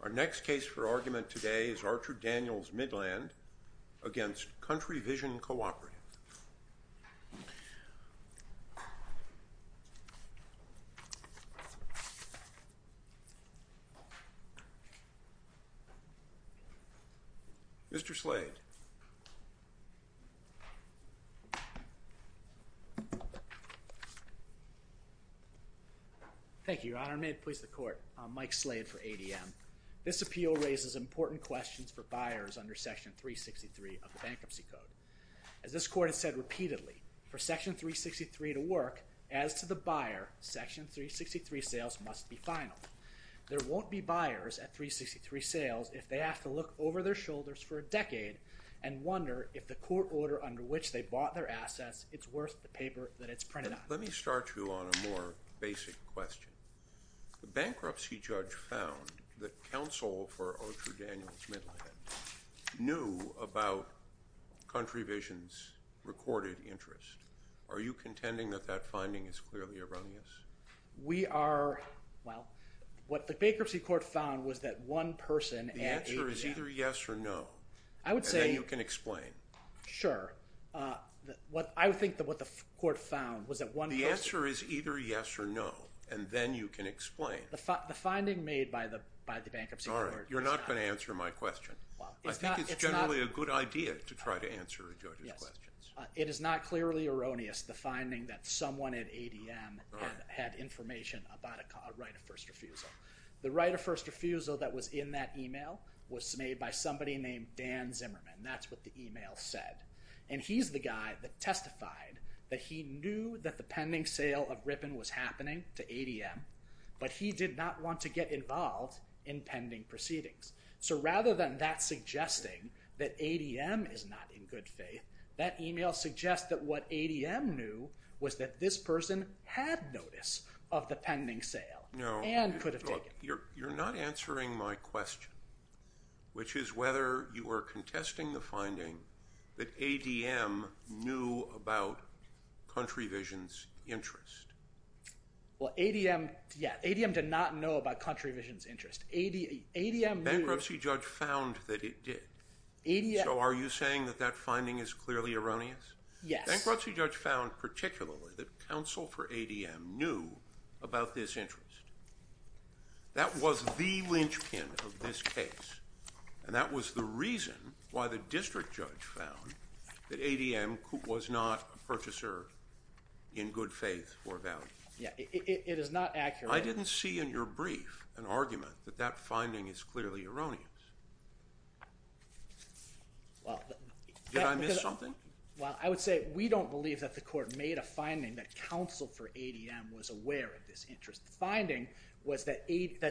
Our next case for argument today is Archer-Daniels-Midland against Country Vision Cooperative. Mr. Slade. Thank you, Your Honor. May it please the Court, I'm Mike Slade for ADM. This appeal raises important questions for buyers under Section 363 of the Bankruptcy Code. As this Court has said repeatedly, for Section 363 to work, as to the buyer, Section 363 sales must be final. There won't be buyers at 363 sales if they have to look over their shoulders for a decade and wonder if the court order under which they bought their assets is worth the paper that it's printed on. Let me start you on a more basic question. The bankruptcy judge found that counsel for Archer-Daniels-Midland knew about Country Vision's recorded interest. Are you contending that that finding is clearly erroneous? We are, well, what the bankruptcy court found was that one person at ADM... The answer is either yes or no. I would say... And then you can explain. Sure. I would think that what the court found was that one person... The answer is either yes or no, and then you can explain. The finding made by the bankruptcy court is not... All right, you're not going to answer my question. Well, it's not... I think it's generally a good idea to try to answer a judge's questions. It is not clearly erroneous, the finding that someone at ADM had information about a right of first refusal. The right of first refusal that was in that email was made by somebody named Dan Zimmerman. That's what the email said. And he's the guy that testified that he knew that the pending sale of Ripon was happening to ADM, but he did not want to get involved in pending proceedings. So rather than that suggesting that ADM is not in good faith, that email suggests that what ADM knew was that this person had notice of the pending sale and could have taken it. No. Look, you're not answering my question, which is whether you are contesting the finding that ADM knew about Country Vision's interest. Well, ADM... Bankruptcy judge found that it did. So are you saying that that finding is clearly erroneous? Yes. Bankruptcy judge found particularly that counsel for ADM knew about this interest. That was the linchpin of this case, and that was the reason why the district judge found that ADM was not a purchaser in good faith or value. Yeah, it is not accurate. I didn't see in your brief an argument that that finding is clearly erroneous. Did I miss something? Well, I would say we don't believe that the court made a finding that counsel for ADM was aware of this interest. The finding was that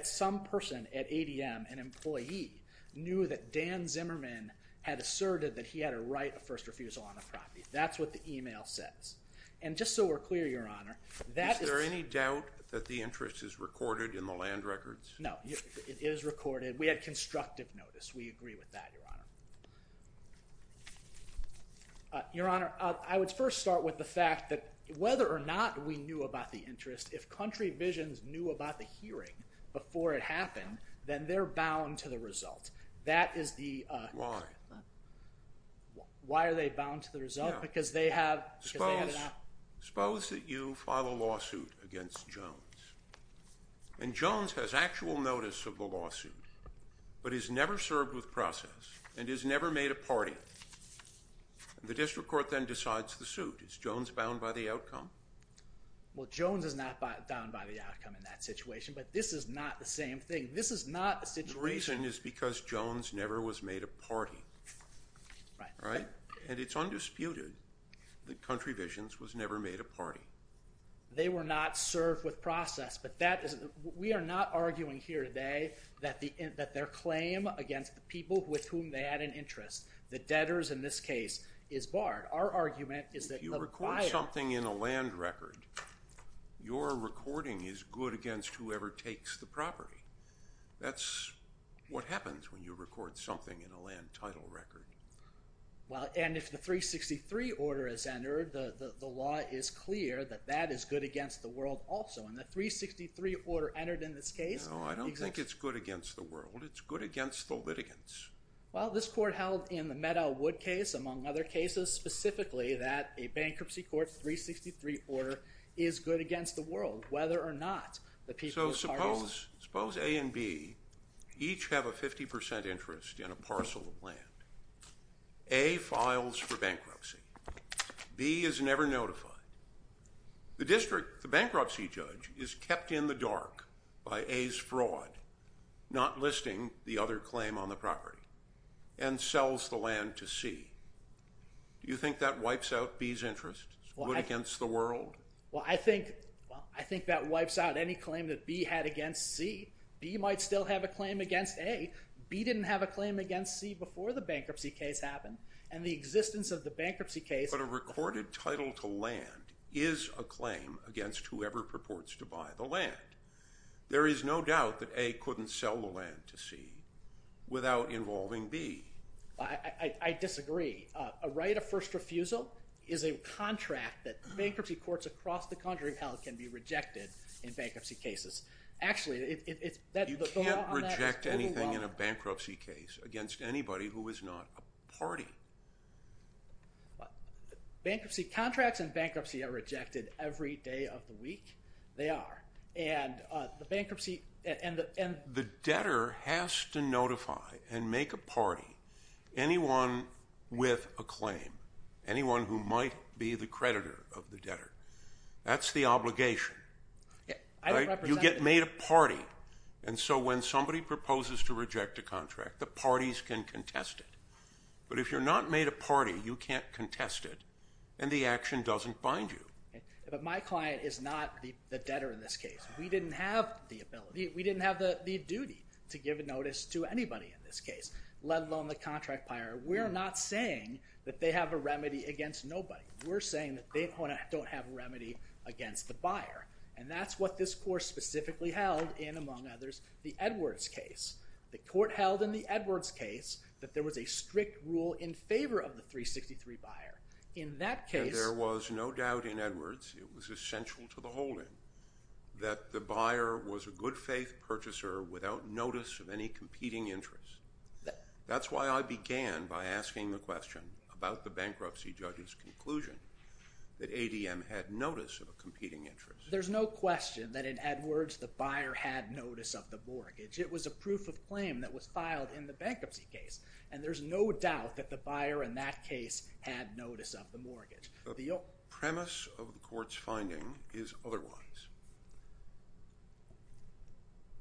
some person at ADM, an employee, knew that Dan Zimmerman had asserted that he had a right of first refusal on a property. That's what the email says. And just so we're clear, Your Honor, that is... Is it out that the interest is recorded in the land records? No, it is recorded. We had constructive notice. We agree with that, Your Honor. Your Honor, I would first start with the fact that whether or not we knew about the interest, if Country Visions knew about the hearing before it happened, then they're bound to the result. Why? Why are they bound to the result? Suppose that you file a lawsuit against Jones, and Jones has actual notice of the lawsuit but is never served with process and is never made a party. The district court then decides the suit. Is Jones bound by the outcome? Well, Jones is not bound by the outcome in that situation, but this is not the same thing. This is not the situation... The reason is because Jones never was made a party. Right. Right? And it's undisputed that Country Visions was never made a party. They were not served with process, but that is... We are not arguing here today that their claim against the people with whom they had an interest, the debtors in this case, is barred. Our argument is that the buyer... If you record something in a land record, your recording is good against whoever takes the property. That's what happens when you record something in a land title record. Well, and if the 363 order is entered, the law is clear that that is good against the world also. And the 363 order entered in this case... No, I don't think it's good against the world. It's good against the litigants. Well, this court held in the Meadowwood case, among other cases, specifically that a bankruptcy court's 363 order is good against the world, whether or not the people... So suppose A and B each have a 50% interest in a parcel of land. A files for bankruptcy. B is never notified. The bankruptcy judge is kept in the dark by A's fraud, not listing the other claim on the property, and sells the land to C. Do you think that wipes out B's interest? It's good against the world. Well, I think that wipes out any claim that B had against C. B might still have a claim against A. B didn't have a claim against C before the bankruptcy case happened, and the existence of the bankruptcy case... But a recorded title to land is a claim against whoever purports to buy the land. There is no doubt that A couldn't sell the land to C without involving B. I disagree. A right of first refusal is a contract that bankruptcy courts across the country have held can be rejected in bankruptcy cases. Actually, it's... You can't reject anything in a bankruptcy case against anybody who is not a party. Bankruptcy contracts and bankruptcy are rejected every day of the week. They are, and the bankruptcy... The debtor has to notify and make a party. Anyone with a claim, anyone who might be the creditor of the debtor, that's the obligation. You get made a party. And so when somebody proposes to reject a contract, the parties can contest it. But if you're not made a party, you can't contest it, and the action doesn't bind you. But my client is not the debtor in this case. We didn't have the ability, we didn't have the duty to give notice to anybody in this case, let alone the contract buyer. We're not saying that they have a remedy against nobody. We're saying that they don't have a remedy against the buyer. And that's what this court specifically held in, among others, the Edwards case. The court held in the Edwards case that there was a strict rule in favor of the 363 buyer. In that case... And there was no doubt in Edwards, it was essential to the holding, that the buyer was a good faith purchaser without notice of any competing interest. That's why I began by asking the question about the bankruptcy judge's conclusion that ADM had notice of a competing interest. There's no question that in Edwards the buyer had notice of the mortgage. It was a proof of claim that was filed in the bankruptcy case. And there's no doubt that the buyer in that case had notice of the mortgage. The premise of the court's finding is otherwise.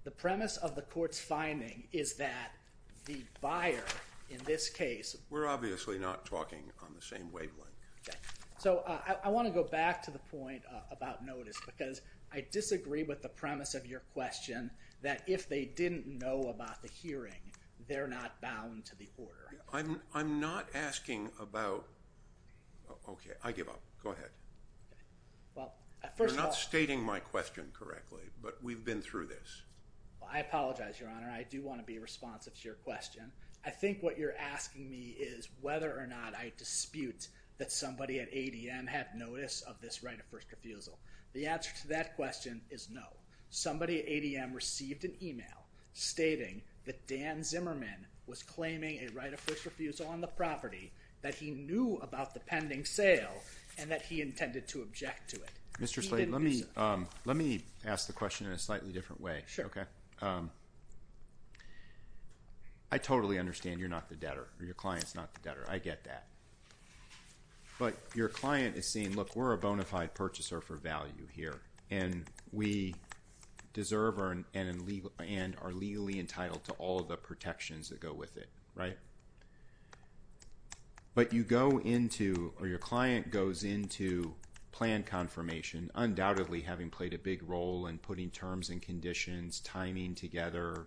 The premise of the court's finding is that the buyer in this case... We're obviously not talking on the same wavelength. Okay. So I want to go back to the point about notice because I disagree with the premise of your question that if they didn't know about the hearing, they're not bound to the order. I'm not asking about... Okay, I give up. Go ahead. Well, first of all... You're not stating my question correctly, but we've been through this. I apologize, Your Honor. I do want to be responsive to your question. I think what you're asking me is whether or not I dispute that somebody at ADM had notice of this right of first refusal. The answer to that question is no. Somebody at ADM received an email stating that Dan Zimmerman was claiming a right of first refusal on the property, that he knew about the pending sale, and that he intended to object to it. Mr. Slade, let me ask the question in a slightly different way. Sure. I totally understand you're not the debtor, or your client's not the debtor. I get that. But your client is saying, look, we're a bona fide purchaser for value here, and we deserve and are legally entitled to all the protections that go with it, right? But you go into, or your client goes into plan confirmation, undoubtedly having played a big role in putting terms and conditions, timing together,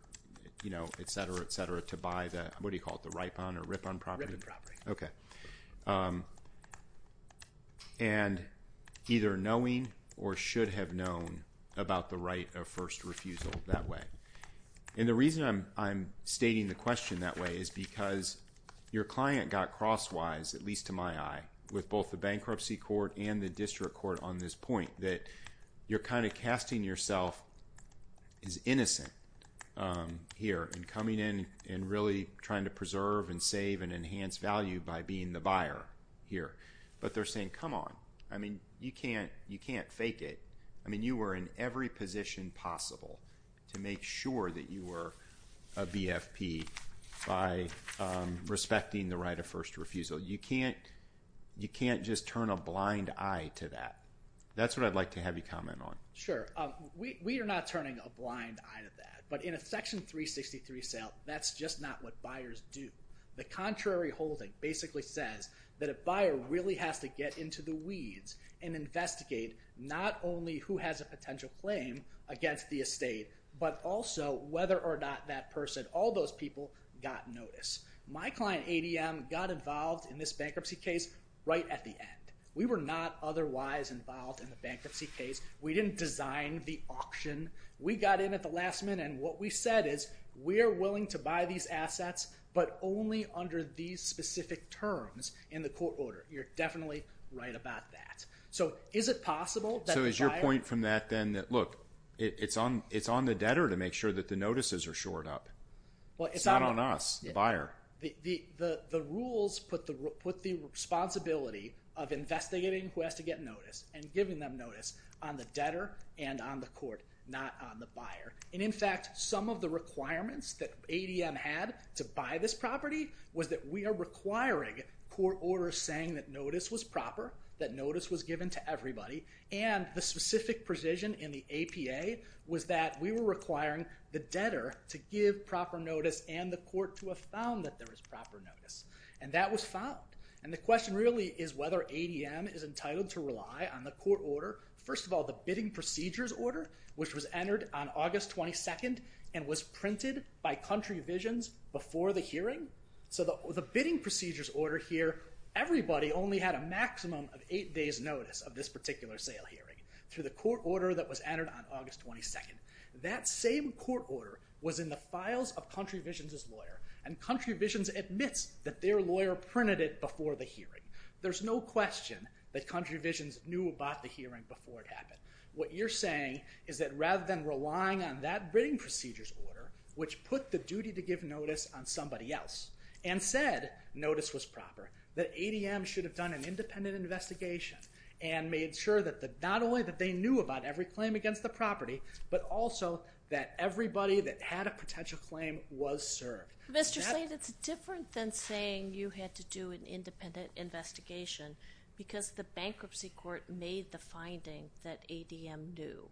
you know, etc., etc., to buy the, what do you call it, the rip-on property? Rip-on property. Okay. And either knowing or should have known about the right of first refusal that way. And the reason I'm stating the question that way is because your client got crosswise, at least to my eye, with both the bankruptcy court and the district court on this point, that you're kind of casting yourself as innocent here, and coming in and really trying to preserve and save and enhance value by being the buyer here. But they're saying, come on. I mean, you can't fake it. I mean, you were in every position possible to make sure that you were a BFP by respecting the right of first refusal. You can't just turn a blind eye to that. That's what I'd like to have you comment on. Sure. We are not turning a blind eye to that. But in a Section 363 sale, that's just not what buyers do. The contrary holding basically says that a buyer really has to get into the who has a potential claim against the estate, but also whether or not that person, all those people, got notice. My client, ADM, got involved in this bankruptcy case right at the end. We were not otherwise involved in the bankruptcy case. We didn't design the auction. We got in at the last minute, and what we said is, we are willing to buy these assets, but only under these specific terms in the court order. You're definitely right about that. Is your point from that then that, look, it's on the debtor to make sure that the notices are shored up. It's not on us, the buyer. The rules put the responsibility of investigating who has to get notice and giving them notice on the debtor and on the court, not on the buyer. In fact, some of the requirements that ADM had to buy this property was that we are requiring court orders saying that notice was proper, that notice was given to everybody, and the specific precision in the APA was that we were requiring the debtor to give proper notice and the court to have found that there was proper notice, and that was found. The question really is whether ADM is entitled to rely on the court order. First of all, the bidding procedures order, which was entered on August 22nd and was printed by Country Visions before the hearing, so the bidding procedures order here, everybody only had a maximum of eight days' notice of this particular sale hearing through the court order that was entered on August 22nd. That same court order was in the files of Country Visions' lawyer, and Country Visions admits that their lawyer printed it before the hearing. There's no question that Country Visions knew about the hearing before it happened. What you're saying is that rather than relying on that bidding procedures order, which put the duty to give notice on somebody else and said notice was proper, that ADM should have done an independent investigation and made sure that not only that they knew about every claim against the property but also that everybody that had a potential claim was served. Mr. Slade, it's different than saying you had to do an independent investigation because the bankruptcy court made the finding that ADM knew.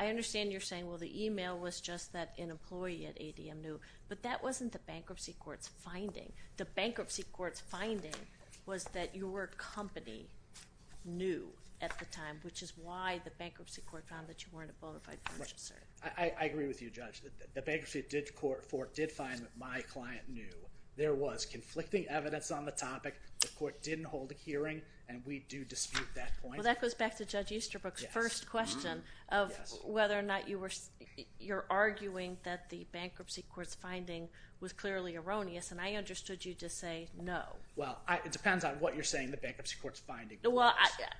I understand you're saying, well, the email was just that an employee at ADM knew, but that wasn't the bankruptcy court's finding. The bankruptcy court's finding was that your company knew at the time, which is why the bankruptcy court found that you weren't a bona fide purchaser. I agree with you, Judge. The bankruptcy court did find that my client knew. There was conflicting evidence on the topic. The court didn't hold a hearing, and we do dispute that point. Well, that goes back to Judge Easterbrook's first question of whether or not you're arguing that the bankruptcy court's finding was clearly erroneous, and I understood you to say no. Well, it depends on what you're saying the bankruptcy court's finding was.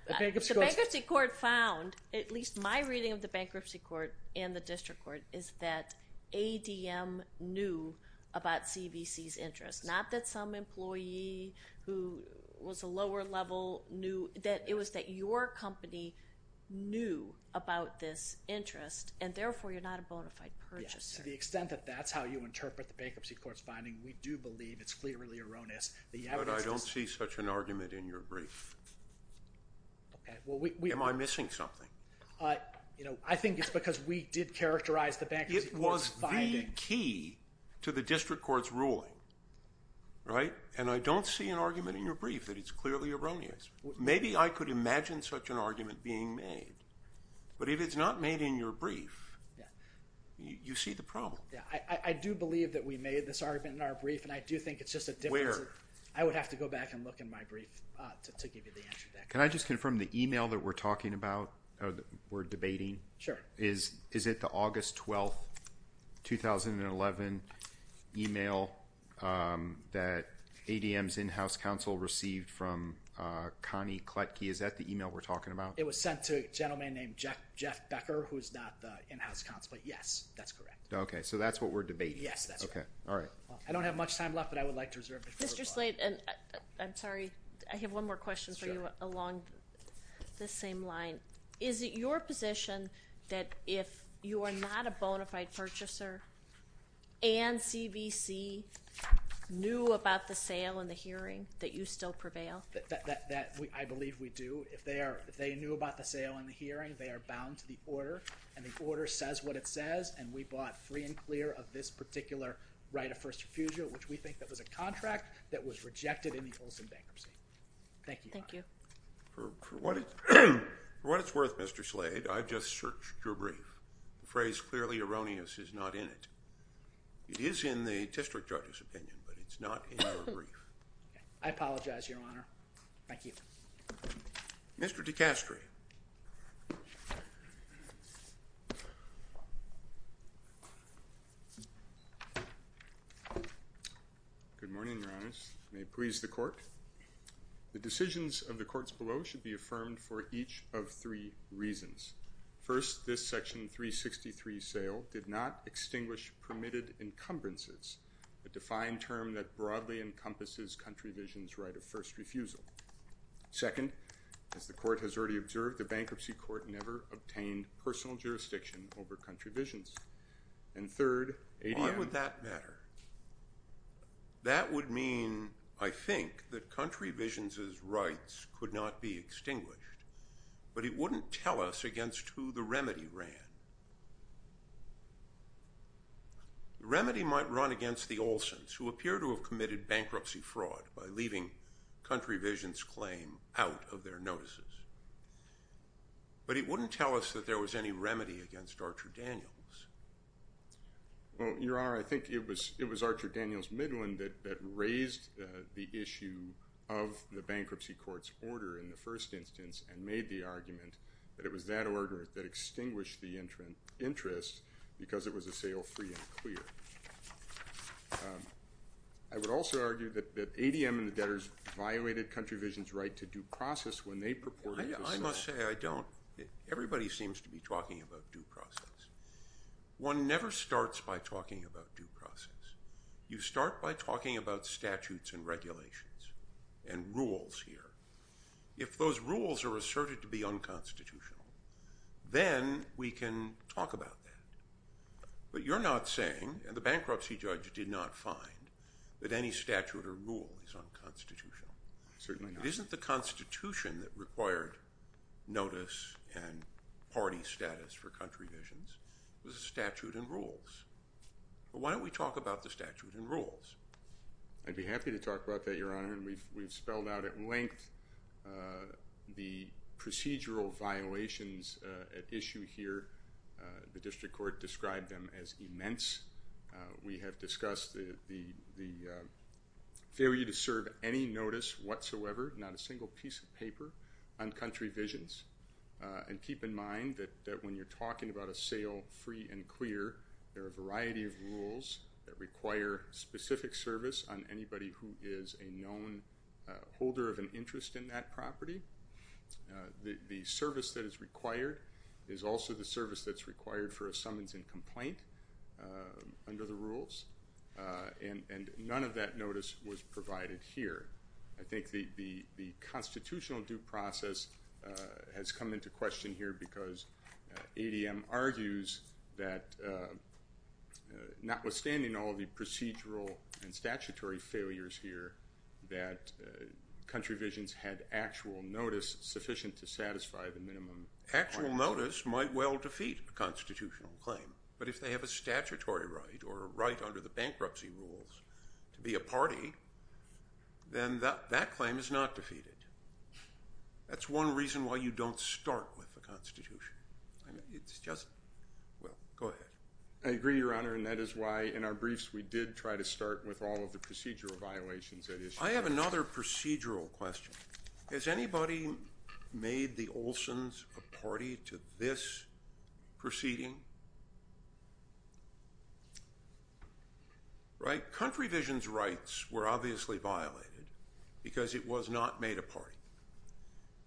The bankruptcy court found, at least my reading of the bankruptcy court and the district court, is that ADM knew about CVC's interest, not that some employee who was a lower level knew. It was that your company knew about this interest, and therefore you're not a bona fide purchaser. To the extent that that's how you interpret the bankruptcy court's finding, we do believe it's clearly erroneous. But I don't see such an argument in your brief. Am I missing something? I think it's because we did characterize the bankruptcy court's finding. It was the key to the district court's ruling, right? And I don't see an argument in your brief that it's clearly erroneous. Maybe I could imagine such an argument being made, but if it's not made in your brief, you see the problem. I do believe that we made this argument in our brief, and I do think it's just a difference. Where? I would have to go back and look in my brief to give you the answer to that question. Can I just confirm the email that we're talking about or that we're debating? Sure. Is it the August 12, 2011 email that ADM's in-house counsel received from Connie Kletke? Is that the email we're talking about? It was sent to a gentleman named Jeff Becker, who's not the in-house counsel, but yes, that's correct. Okay. So that's what we're debating. Yes, that's correct. Okay. All right. I don't have much time left, but I would like to reserve it. Mr. Slate, I'm sorry. I have one more question for you along this same line. Is it your position that if you are not a bona fide purchaser and CBC knew about the sale and the hearing, that you still prevail? If they knew about the sale and the hearing, they are bound to the order, and the order says what it says, and we bought free and clear of this particular right of first refusal, which we think that was a contract that was rejected in the Olson bankruptcy. Thank you, Your Honor. Thank you. For what it's worth, Mr. Slate, I've just searched your brief. The phrase clearly erroneous is not in it. It is in the district judge's opinion, but it's not in your brief. I apologize, Your Honor. Thank you. Mr. DiCastro. Good morning, Your Honors. May it please the court. The decisions of the courts below should be affirmed for each of three reasons. First, this Section 363 sale did not extinguish permitted encumbrances, a defined term that broadly encompasses Country Visions' right of first refusal. Second, as the court has already observed, the bankruptcy court never obtained personal jurisdiction over Country Visions. And third, ADM. Why would that matter? That would mean, I think, that Country Visions' rights could not be extinguished, but it wouldn't tell us against who the remedy ran. The remedy might run against the Olsons, who appear to have committed bankruptcy fraud by leaving Country Visions' claim out of their notices. But it wouldn't tell us that there was any remedy against Archer Daniels. Well, Your Honor, I think it was Archer Daniels Midland that raised the issue of the bankruptcy court's order in the first instance and made the argument that it was that order that extinguished the interest because it was a sale free and clear. I would also argue that ADM and the debtors violated Country Visions' right to due process when they purported to sell. I must say I don't. Everybody seems to be talking about due process. One never starts by talking about due process. You start by talking about statutes and regulations and rules here. If those rules are asserted to be unconstitutional, then we can talk about that. But you're not saying, and the bankruptcy judge did not find, that any statute or rule is unconstitutional. Certainly not. It isn't the Constitution that required notice and party status for Country Visions. It was a statute and rules. Why don't we talk about the statute and rules? I'd be happy to talk about that, Your Honor, and we've spelled out at length the procedural violations at issue here. The district court described them as immense. We have discussed the failure to serve any notice whatsoever, not a single piece of paper, on Country Visions. And keep in mind that when you're talking about a sale free and clear, there are a variety of rules that require specific service on anybody who is a known holder of an interest in that property. The service that is required is also the service that's required for a summons and complaint under the rules. And none of that notice was provided here. I think the constitutional due process has come into question here because ADM argues that notwithstanding all the procedural and statutory failures here, that Country Visions had actual notice sufficient to satisfy the minimum requirement. Actual notice might well defeat a constitutional claim. But if they have a statutory right or a right under the bankruptcy rules to be a party, then that claim is not defeated. That's one reason why you don't start with the Constitution. It's just – well, go ahead. I agree, Your Honor, and that is why in our briefs we did try to start with all of the procedural violations at issue. I have another procedural question. Has anybody made the Olsens a party to this proceeding? Country Visions rights were obviously violated because it was not made a party.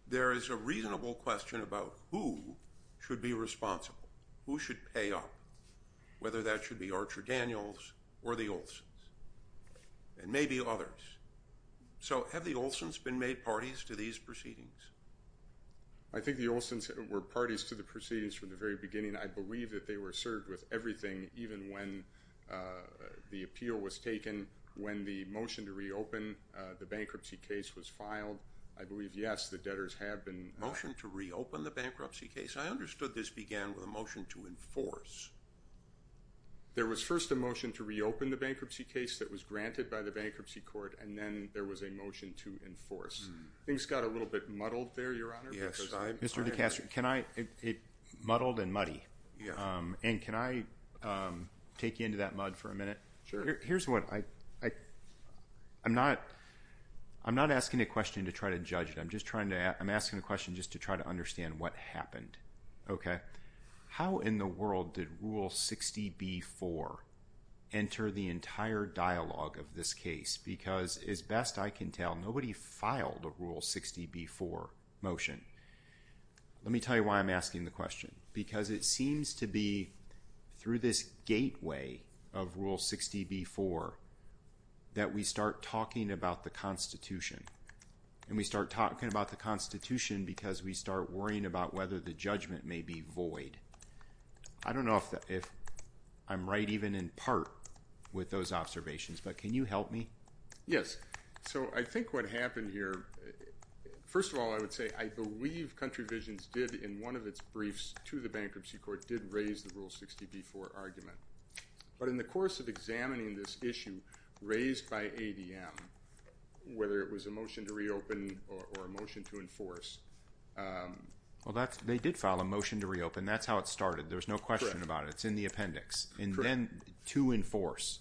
There is a reasonable question about who should be responsible, who should pay up, whether that should be Archer Daniels or the Olsens and maybe others. So have the Olsens been made parties to these proceedings? I think the Olsens were parties to the proceedings from the very beginning. I believe that they were served with everything even when the appeal was taken, when the motion to reopen the bankruptcy case was filed. I believe, yes, the debtors have been – Motion to reopen the bankruptcy case? I understood this began with a motion to enforce. There was first a motion to reopen the bankruptcy case that was granted by the bankruptcy court, and then there was a motion to enforce. Things got a little bit muddled there, Your Honor, because I – Mr. DeCastro, can I – muddled and muddy. And can I take you into that mud for a minute? Sure. Here's what – I'm not asking a question to try to judge it. I'm just trying to – I'm asking a question just to try to understand what happened, okay? How in the world did Rule 60b-4 enter the entire dialogue of this case? Because as best I can tell, nobody filed a Rule 60b-4 motion. Let me tell you why I'm asking the question. Because it seems to be through this gateway of Rule 60b-4 that we start talking about the Constitution. And we start talking about the Constitution because we start worrying about whether the judgment may be void. I don't know if I'm right even in part with those observations, but can you help me? Yes. So I think what happened here – first of all, I would say I believe Country Visions did, in one of its briefs to the bankruptcy court, did raise the Rule 60b-4 argument. But in the course of examining this issue raised by ADM, whether it was a motion to reopen or a motion to enforce – Well, they did file a motion to reopen. That's how it started. There was no question about it. It's in the appendix. And then to enforce.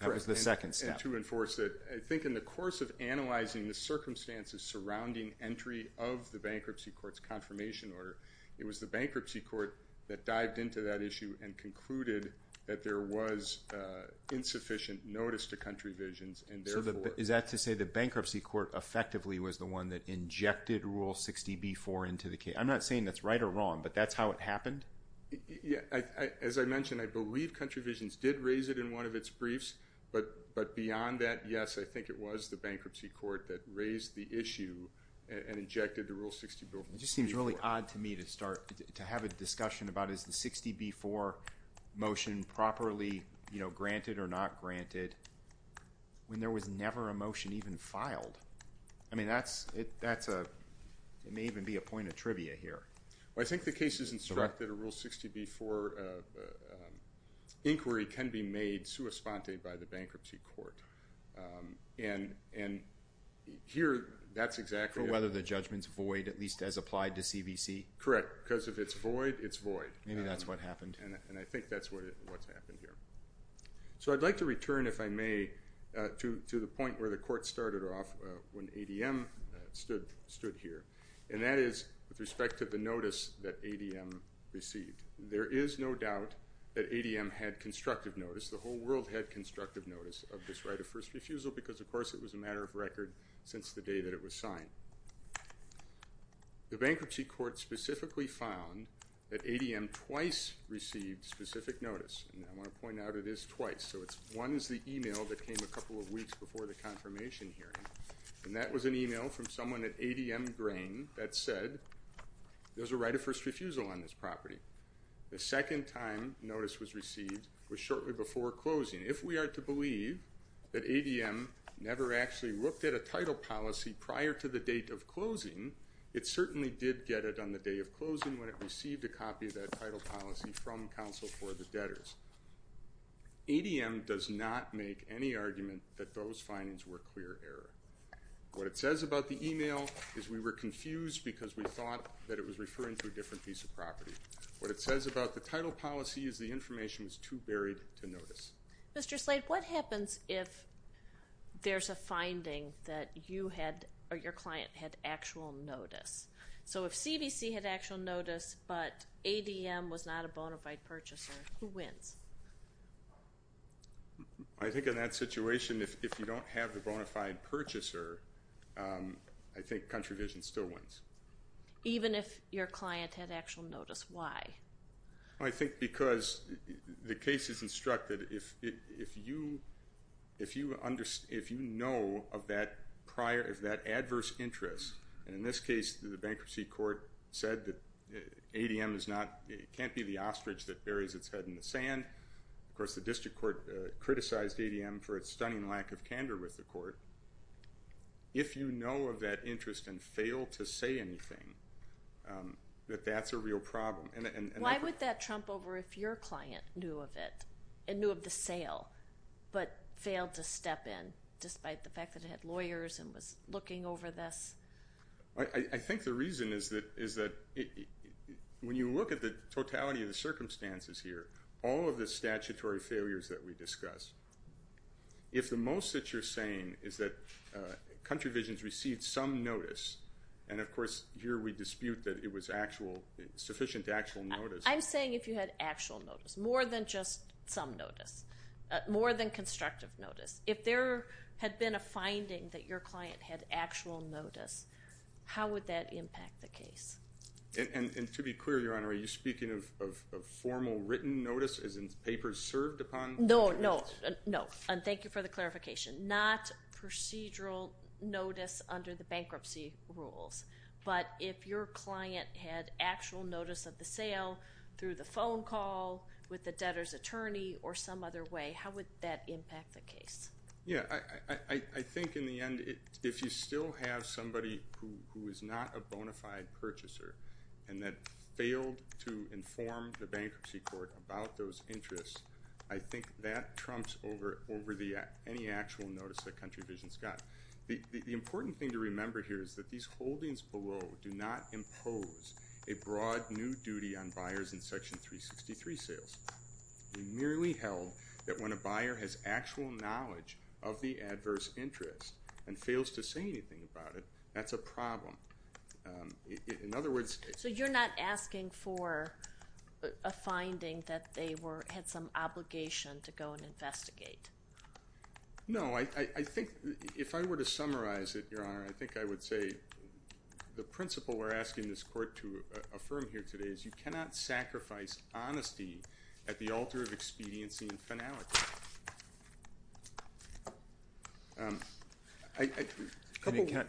That was the second step. Correct. And to enforce it. I think in the course of analyzing the circumstances surrounding entry of the bankruptcy court's confirmation order, it was the bankruptcy court that dived into that issue and concluded that there was insufficient notice to Country Visions. So is that to say the bankruptcy court effectively was the one that injected Rule 60b-4 into the case? I'm not saying that's right or wrong, but that's how it happened? As I mentioned, I believe Country Visions did raise it in one of its briefs. But beyond that, yes, I think it was the bankruptcy court that raised the issue and injected the Rule 60b-4. It just seems really odd to me to have a discussion about is the 60b-4 motion properly granted or not granted when there was never a motion even filed? I mean, it may even be a point of trivia here. Well, I think the case is instructed a Rule 60b-4 inquiry can be made sua sponte by the bankruptcy court. And here, that's exactly it. For whether the judgment's void, at least as applied to CBC? Correct, because if it's void, it's void. Maybe that's what happened. And I think that's what's happened here. So I'd like to return, if I may, to the point where the court started off when ADM stood here, and that is with respect to the notice that ADM received. There is no doubt that ADM had constructive notice. The whole world had constructive notice of this right of first refusal because, of course, it was a matter of record since the day that it was signed. The bankruptcy court specifically found that ADM twice received specific notice. And I want to point out it is twice. So one is the email that came a couple of weeks before the confirmation hearing, and that was an email from someone at ADM Grain that said there's a right of first refusal on this property. The second time notice was received was shortly before closing. If we are to believe that ADM never actually looked at a title policy prior to the date of closing, it certainly did get it on the day of closing when it received a copy of that title policy from Counsel for the Debtors. ADM does not make any argument that those findings were clear error. What it says about the email is we were confused because we thought that it was referring to a different piece of property. What it says about the title policy is the information was too buried to notice. Mr. Slade, what happens if there's a finding that you had or your client had actual notice? So if CVC had actual notice but ADM was not a bona fide purchaser, who wins? I think in that situation, if you don't have the bona fide purchaser, I think Country Vision still wins. Even if your client had actual notice, why? I think because the case is instructed, if you know of that adverse interest, and in this case, the bankruptcy court said that ADM can't be the ostrich that buries its head in the sand. Of course, the district court criticized ADM for its stunning lack of candor with the court. If you know of that interest and fail to say anything, that that's a real problem. Why would that trump over if your client knew of it and knew of the sale but failed to step in, I think the reason is that when you look at the totality of the circumstances here, all of the statutory failures that we discussed, if the most that you're saying is that Country Vision's received some notice, and of course here we dispute that it was sufficient actual notice. I'm saying if you had actual notice, more than just some notice, more than constructive notice. If there had been a finding that your client had actual notice, how would that impact the case? And to be clear, Your Honor, are you speaking of formal written notice, as in papers served upon? No, no, no, and thank you for the clarification. Not procedural notice under the bankruptcy rules, but if your client had actual notice of the sale through the phone call, with the debtor's attorney, or some other way, how would that impact the case? Yeah, I think in the end, if you still have somebody who is not a bona fide purchaser and that failed to inform the bankruptcy court about those interests, I think that trumps over any actual notice that Country Vision's got. The important thing to remember here is that these holdings below do not impose a broad new duty on buyers in Section 363 sales. We merely held that when a buyer has actual knowledge of the adverse interest and fails to say anything about it, that's a problem. In other words... So you're not asking for a finding that they had some obligation to go and investigate? No, I think if I were to summarize it, Your Honor, I think I would say the principle we're asking this court to affirm here today is you cannot sacrifice honesty at the altar of expediency and finality.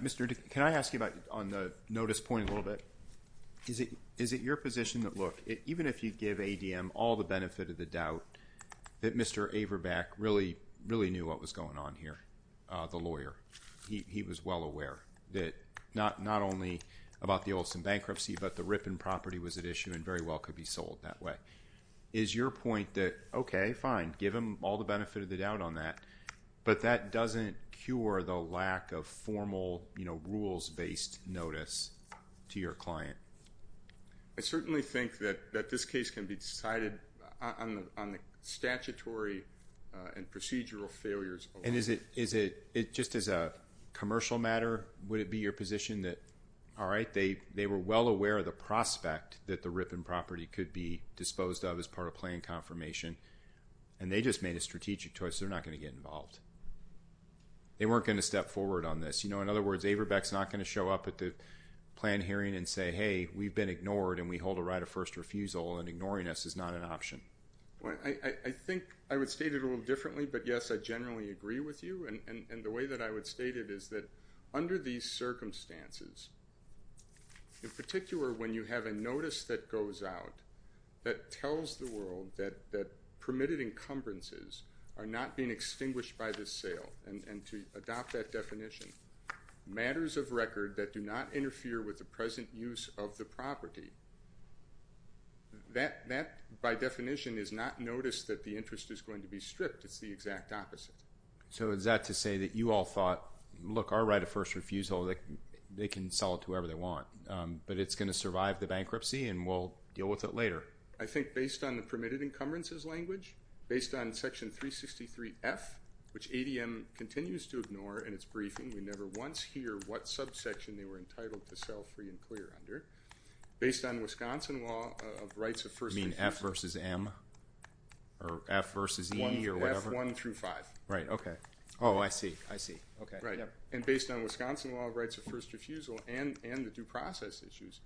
Mr. Dick, can I ask you about, on the notice point a little bit, is it your position that, look, somebody really knew what was going on here, the lawyer. He was well aware that not only about the Olson bankruptcy, but the Ripon property was at issue and very well could be sold that way. Is your point that, okay, fine, give him all the benefit of the doubt on that, but that doesn't cure the lack of formal rules-based notice to your client? I certainly think that this case can be decided on the statutory and procedural failures alone. And just as a commercial matter, would it be your position that, all right, they were well aware of the prospect that the Ripon property could be disposed of as part of plan confirmation, and they just made a strategic choice. They're not going to get involved. They weren't going to step forward on this. You know, in other words, Averbeck's not going to show up at the plan hearing and say, hey, we've been ignored, and we hold a right of first refusal, and ignoring us is not an option. I think I would state it a little differently, but, yes, I generally agree with you. And the way that I would state it is that under these circumstances, in particular, when you have a notice that goes out that tells the world that permitted encumbrances are not being extinguished by this sale, and to adopt that definition, matters of record that do not interfere with the present use of the property, that, by definition, is not notice that the interest is going to be stripped. It's the exact opposite. So is that to say that you all thought, look, our right of first refusal, they can sell it to whoever they want, but it's going to survive the bankruptcy, and we'll deal with it later? I think based on the permitted encumbrances language, based on Section 363F, which ADM continues to ignore in its briefing. We never once hear what subsection they were entitled to sell free and clear under. Based on Wisconsin law of rights of first refusal. You mean F versus M? Or F versus E or whatever? F1 through 5. Right, okay. Oh, I see, I see. Okay. And based on Wisconsin law of rights of first refusal and the due process issues,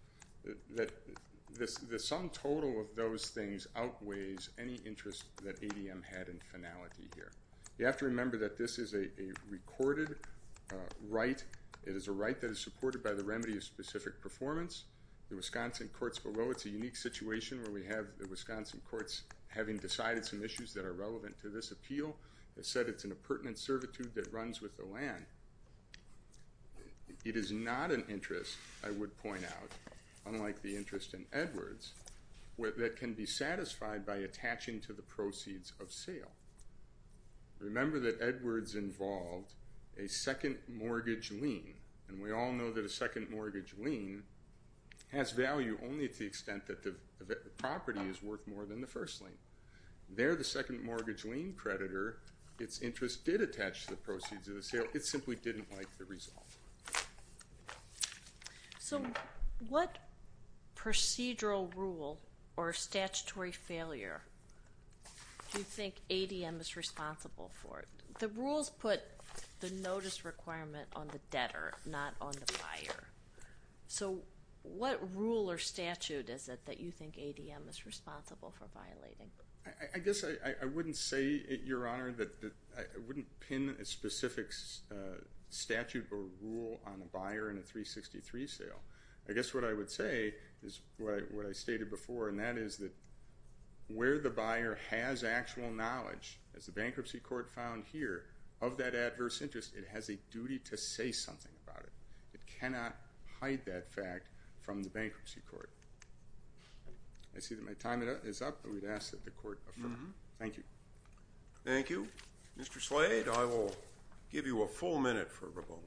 the sum total of those things outweighs any interest that ADM had in finality here. You have to remember that this is a recorded right. It is a right that is supported by the remedy of specific performance. The Wisconsin courts below, it's a unique situation where we have the Wisconsin courts, having decided some issues that are relevant to this appeal, have said it's in a pertinent servitude that runs with the land. It is not an interest, I would point out, unlike the interest in Edwards, that can be satisfied by attaching to the proceeds of sale. Remember that Edwards involved a second mortgage lien. And we all know that a second mortgage lien has value only to the extent that the property is worth more than the first lien. There, the second mortgage lien creditor, its interest did attach to the proceeds of the sale. But it simply didn't like the result. So what procedural rule or statutory failure do you think ADM is responsible for? The rules put the notice requirement on the debtor, not on the buyer. So what rule or statute is it that you think ADM is responsible for violating? I guess I wouldn't say, Your Honor, that I wouldn't pin a specific statute or rule on the buyer in a 363 sale. I guess what I would say is what I stated before, and that is that where the buyer has actual knowledge, as the bankruptcy court found here, of that adverse interest, it has a duty to say something about it. It cannot hide that fact from the bankruptcy court. I see that my time is up, and we'd ask that the court affirm. Thank you. Thank you. Mr. Slade, I will give you a full minute for rebuttal.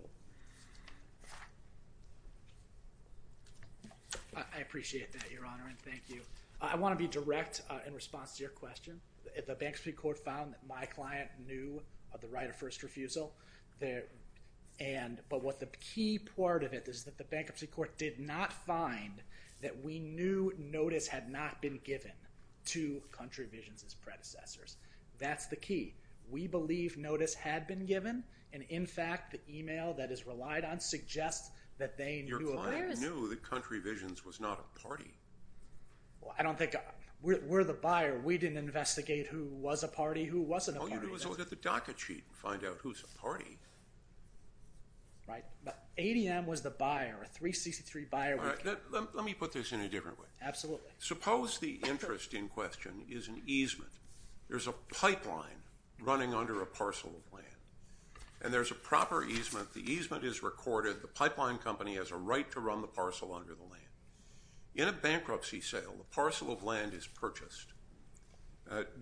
I appreciate that, Your Honor, and thank you. I want to be direct in response to your question. The bankruptcy court found that my client knew of the right of first refusal. But the key part of it is that the bankruptcy court did not find that we knew notice had not been given to Country Visions' predecessors. That's the key. We believe notice had been given, and, in fact, the email that is relied on suggests that they knew of it. Your client knew that Country Visions was not a party. I don't think – we're the buyer. We didn't investigate who was a party, who wasn't a party. All you do is look at the docket sheet and find out who's a party. Right. ADM was the buyer, a 363 buyer. Let me put this in a different way. Absolutely. Suppose the interest in question is an easement. There's a pipeline running under a parcel of land, and there's a proper easement. The easement is recorded. The pipeline company has a right to run the parcel under the land. In a bankruptcy sale, the parcel of land is purchased.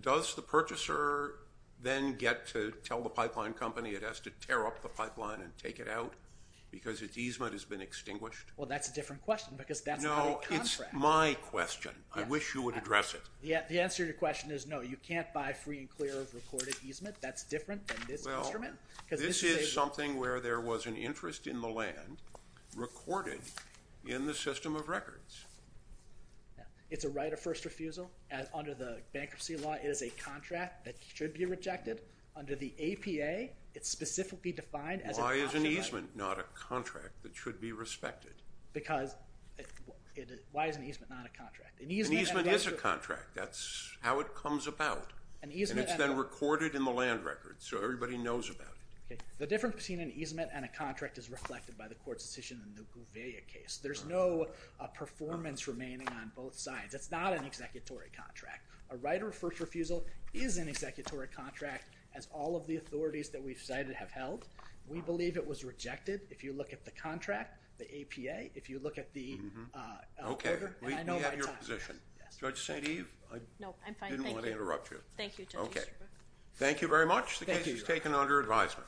Does the purchaser then get to tell the pipeline company it has to tear up the pipeline and take it out because its easement has been extinguished? Well, that's a different question because that's not a contract. No, it's my question. I wish you would address it. The answer to your question is no. You can't buy free and clear of recorded easement. That's different than this instrument. Well, this is something where there was an interest in the land recorded in the system of records. It's a right of first refusal. Under the bankruptcy law, it is a contract that should be rejected. Under the APA, it's specifically defined as an option. Why is an easement not a contract that should be respected? Because why is an easement not a contract? An easement is a contract. That's how it comes about. And it's then recorded in the land records, so everybody knows about it. The difference between an easement and a contract is reflected by the court's decision in the Gouveia case. There's no performance remaining on both sides. It's not an executory contract. A right of first refusal is an executory contract, as all of the authorities that we've cited have held. We believe it was rejected. If you look at the contract, the APA, if you look at the— Okay, we have your position. Judge St. Eve? No, I'm fine. I didn't want to interrupt you. Thank you, Judge. Okay. Thank you very much. The case is taken under advisement.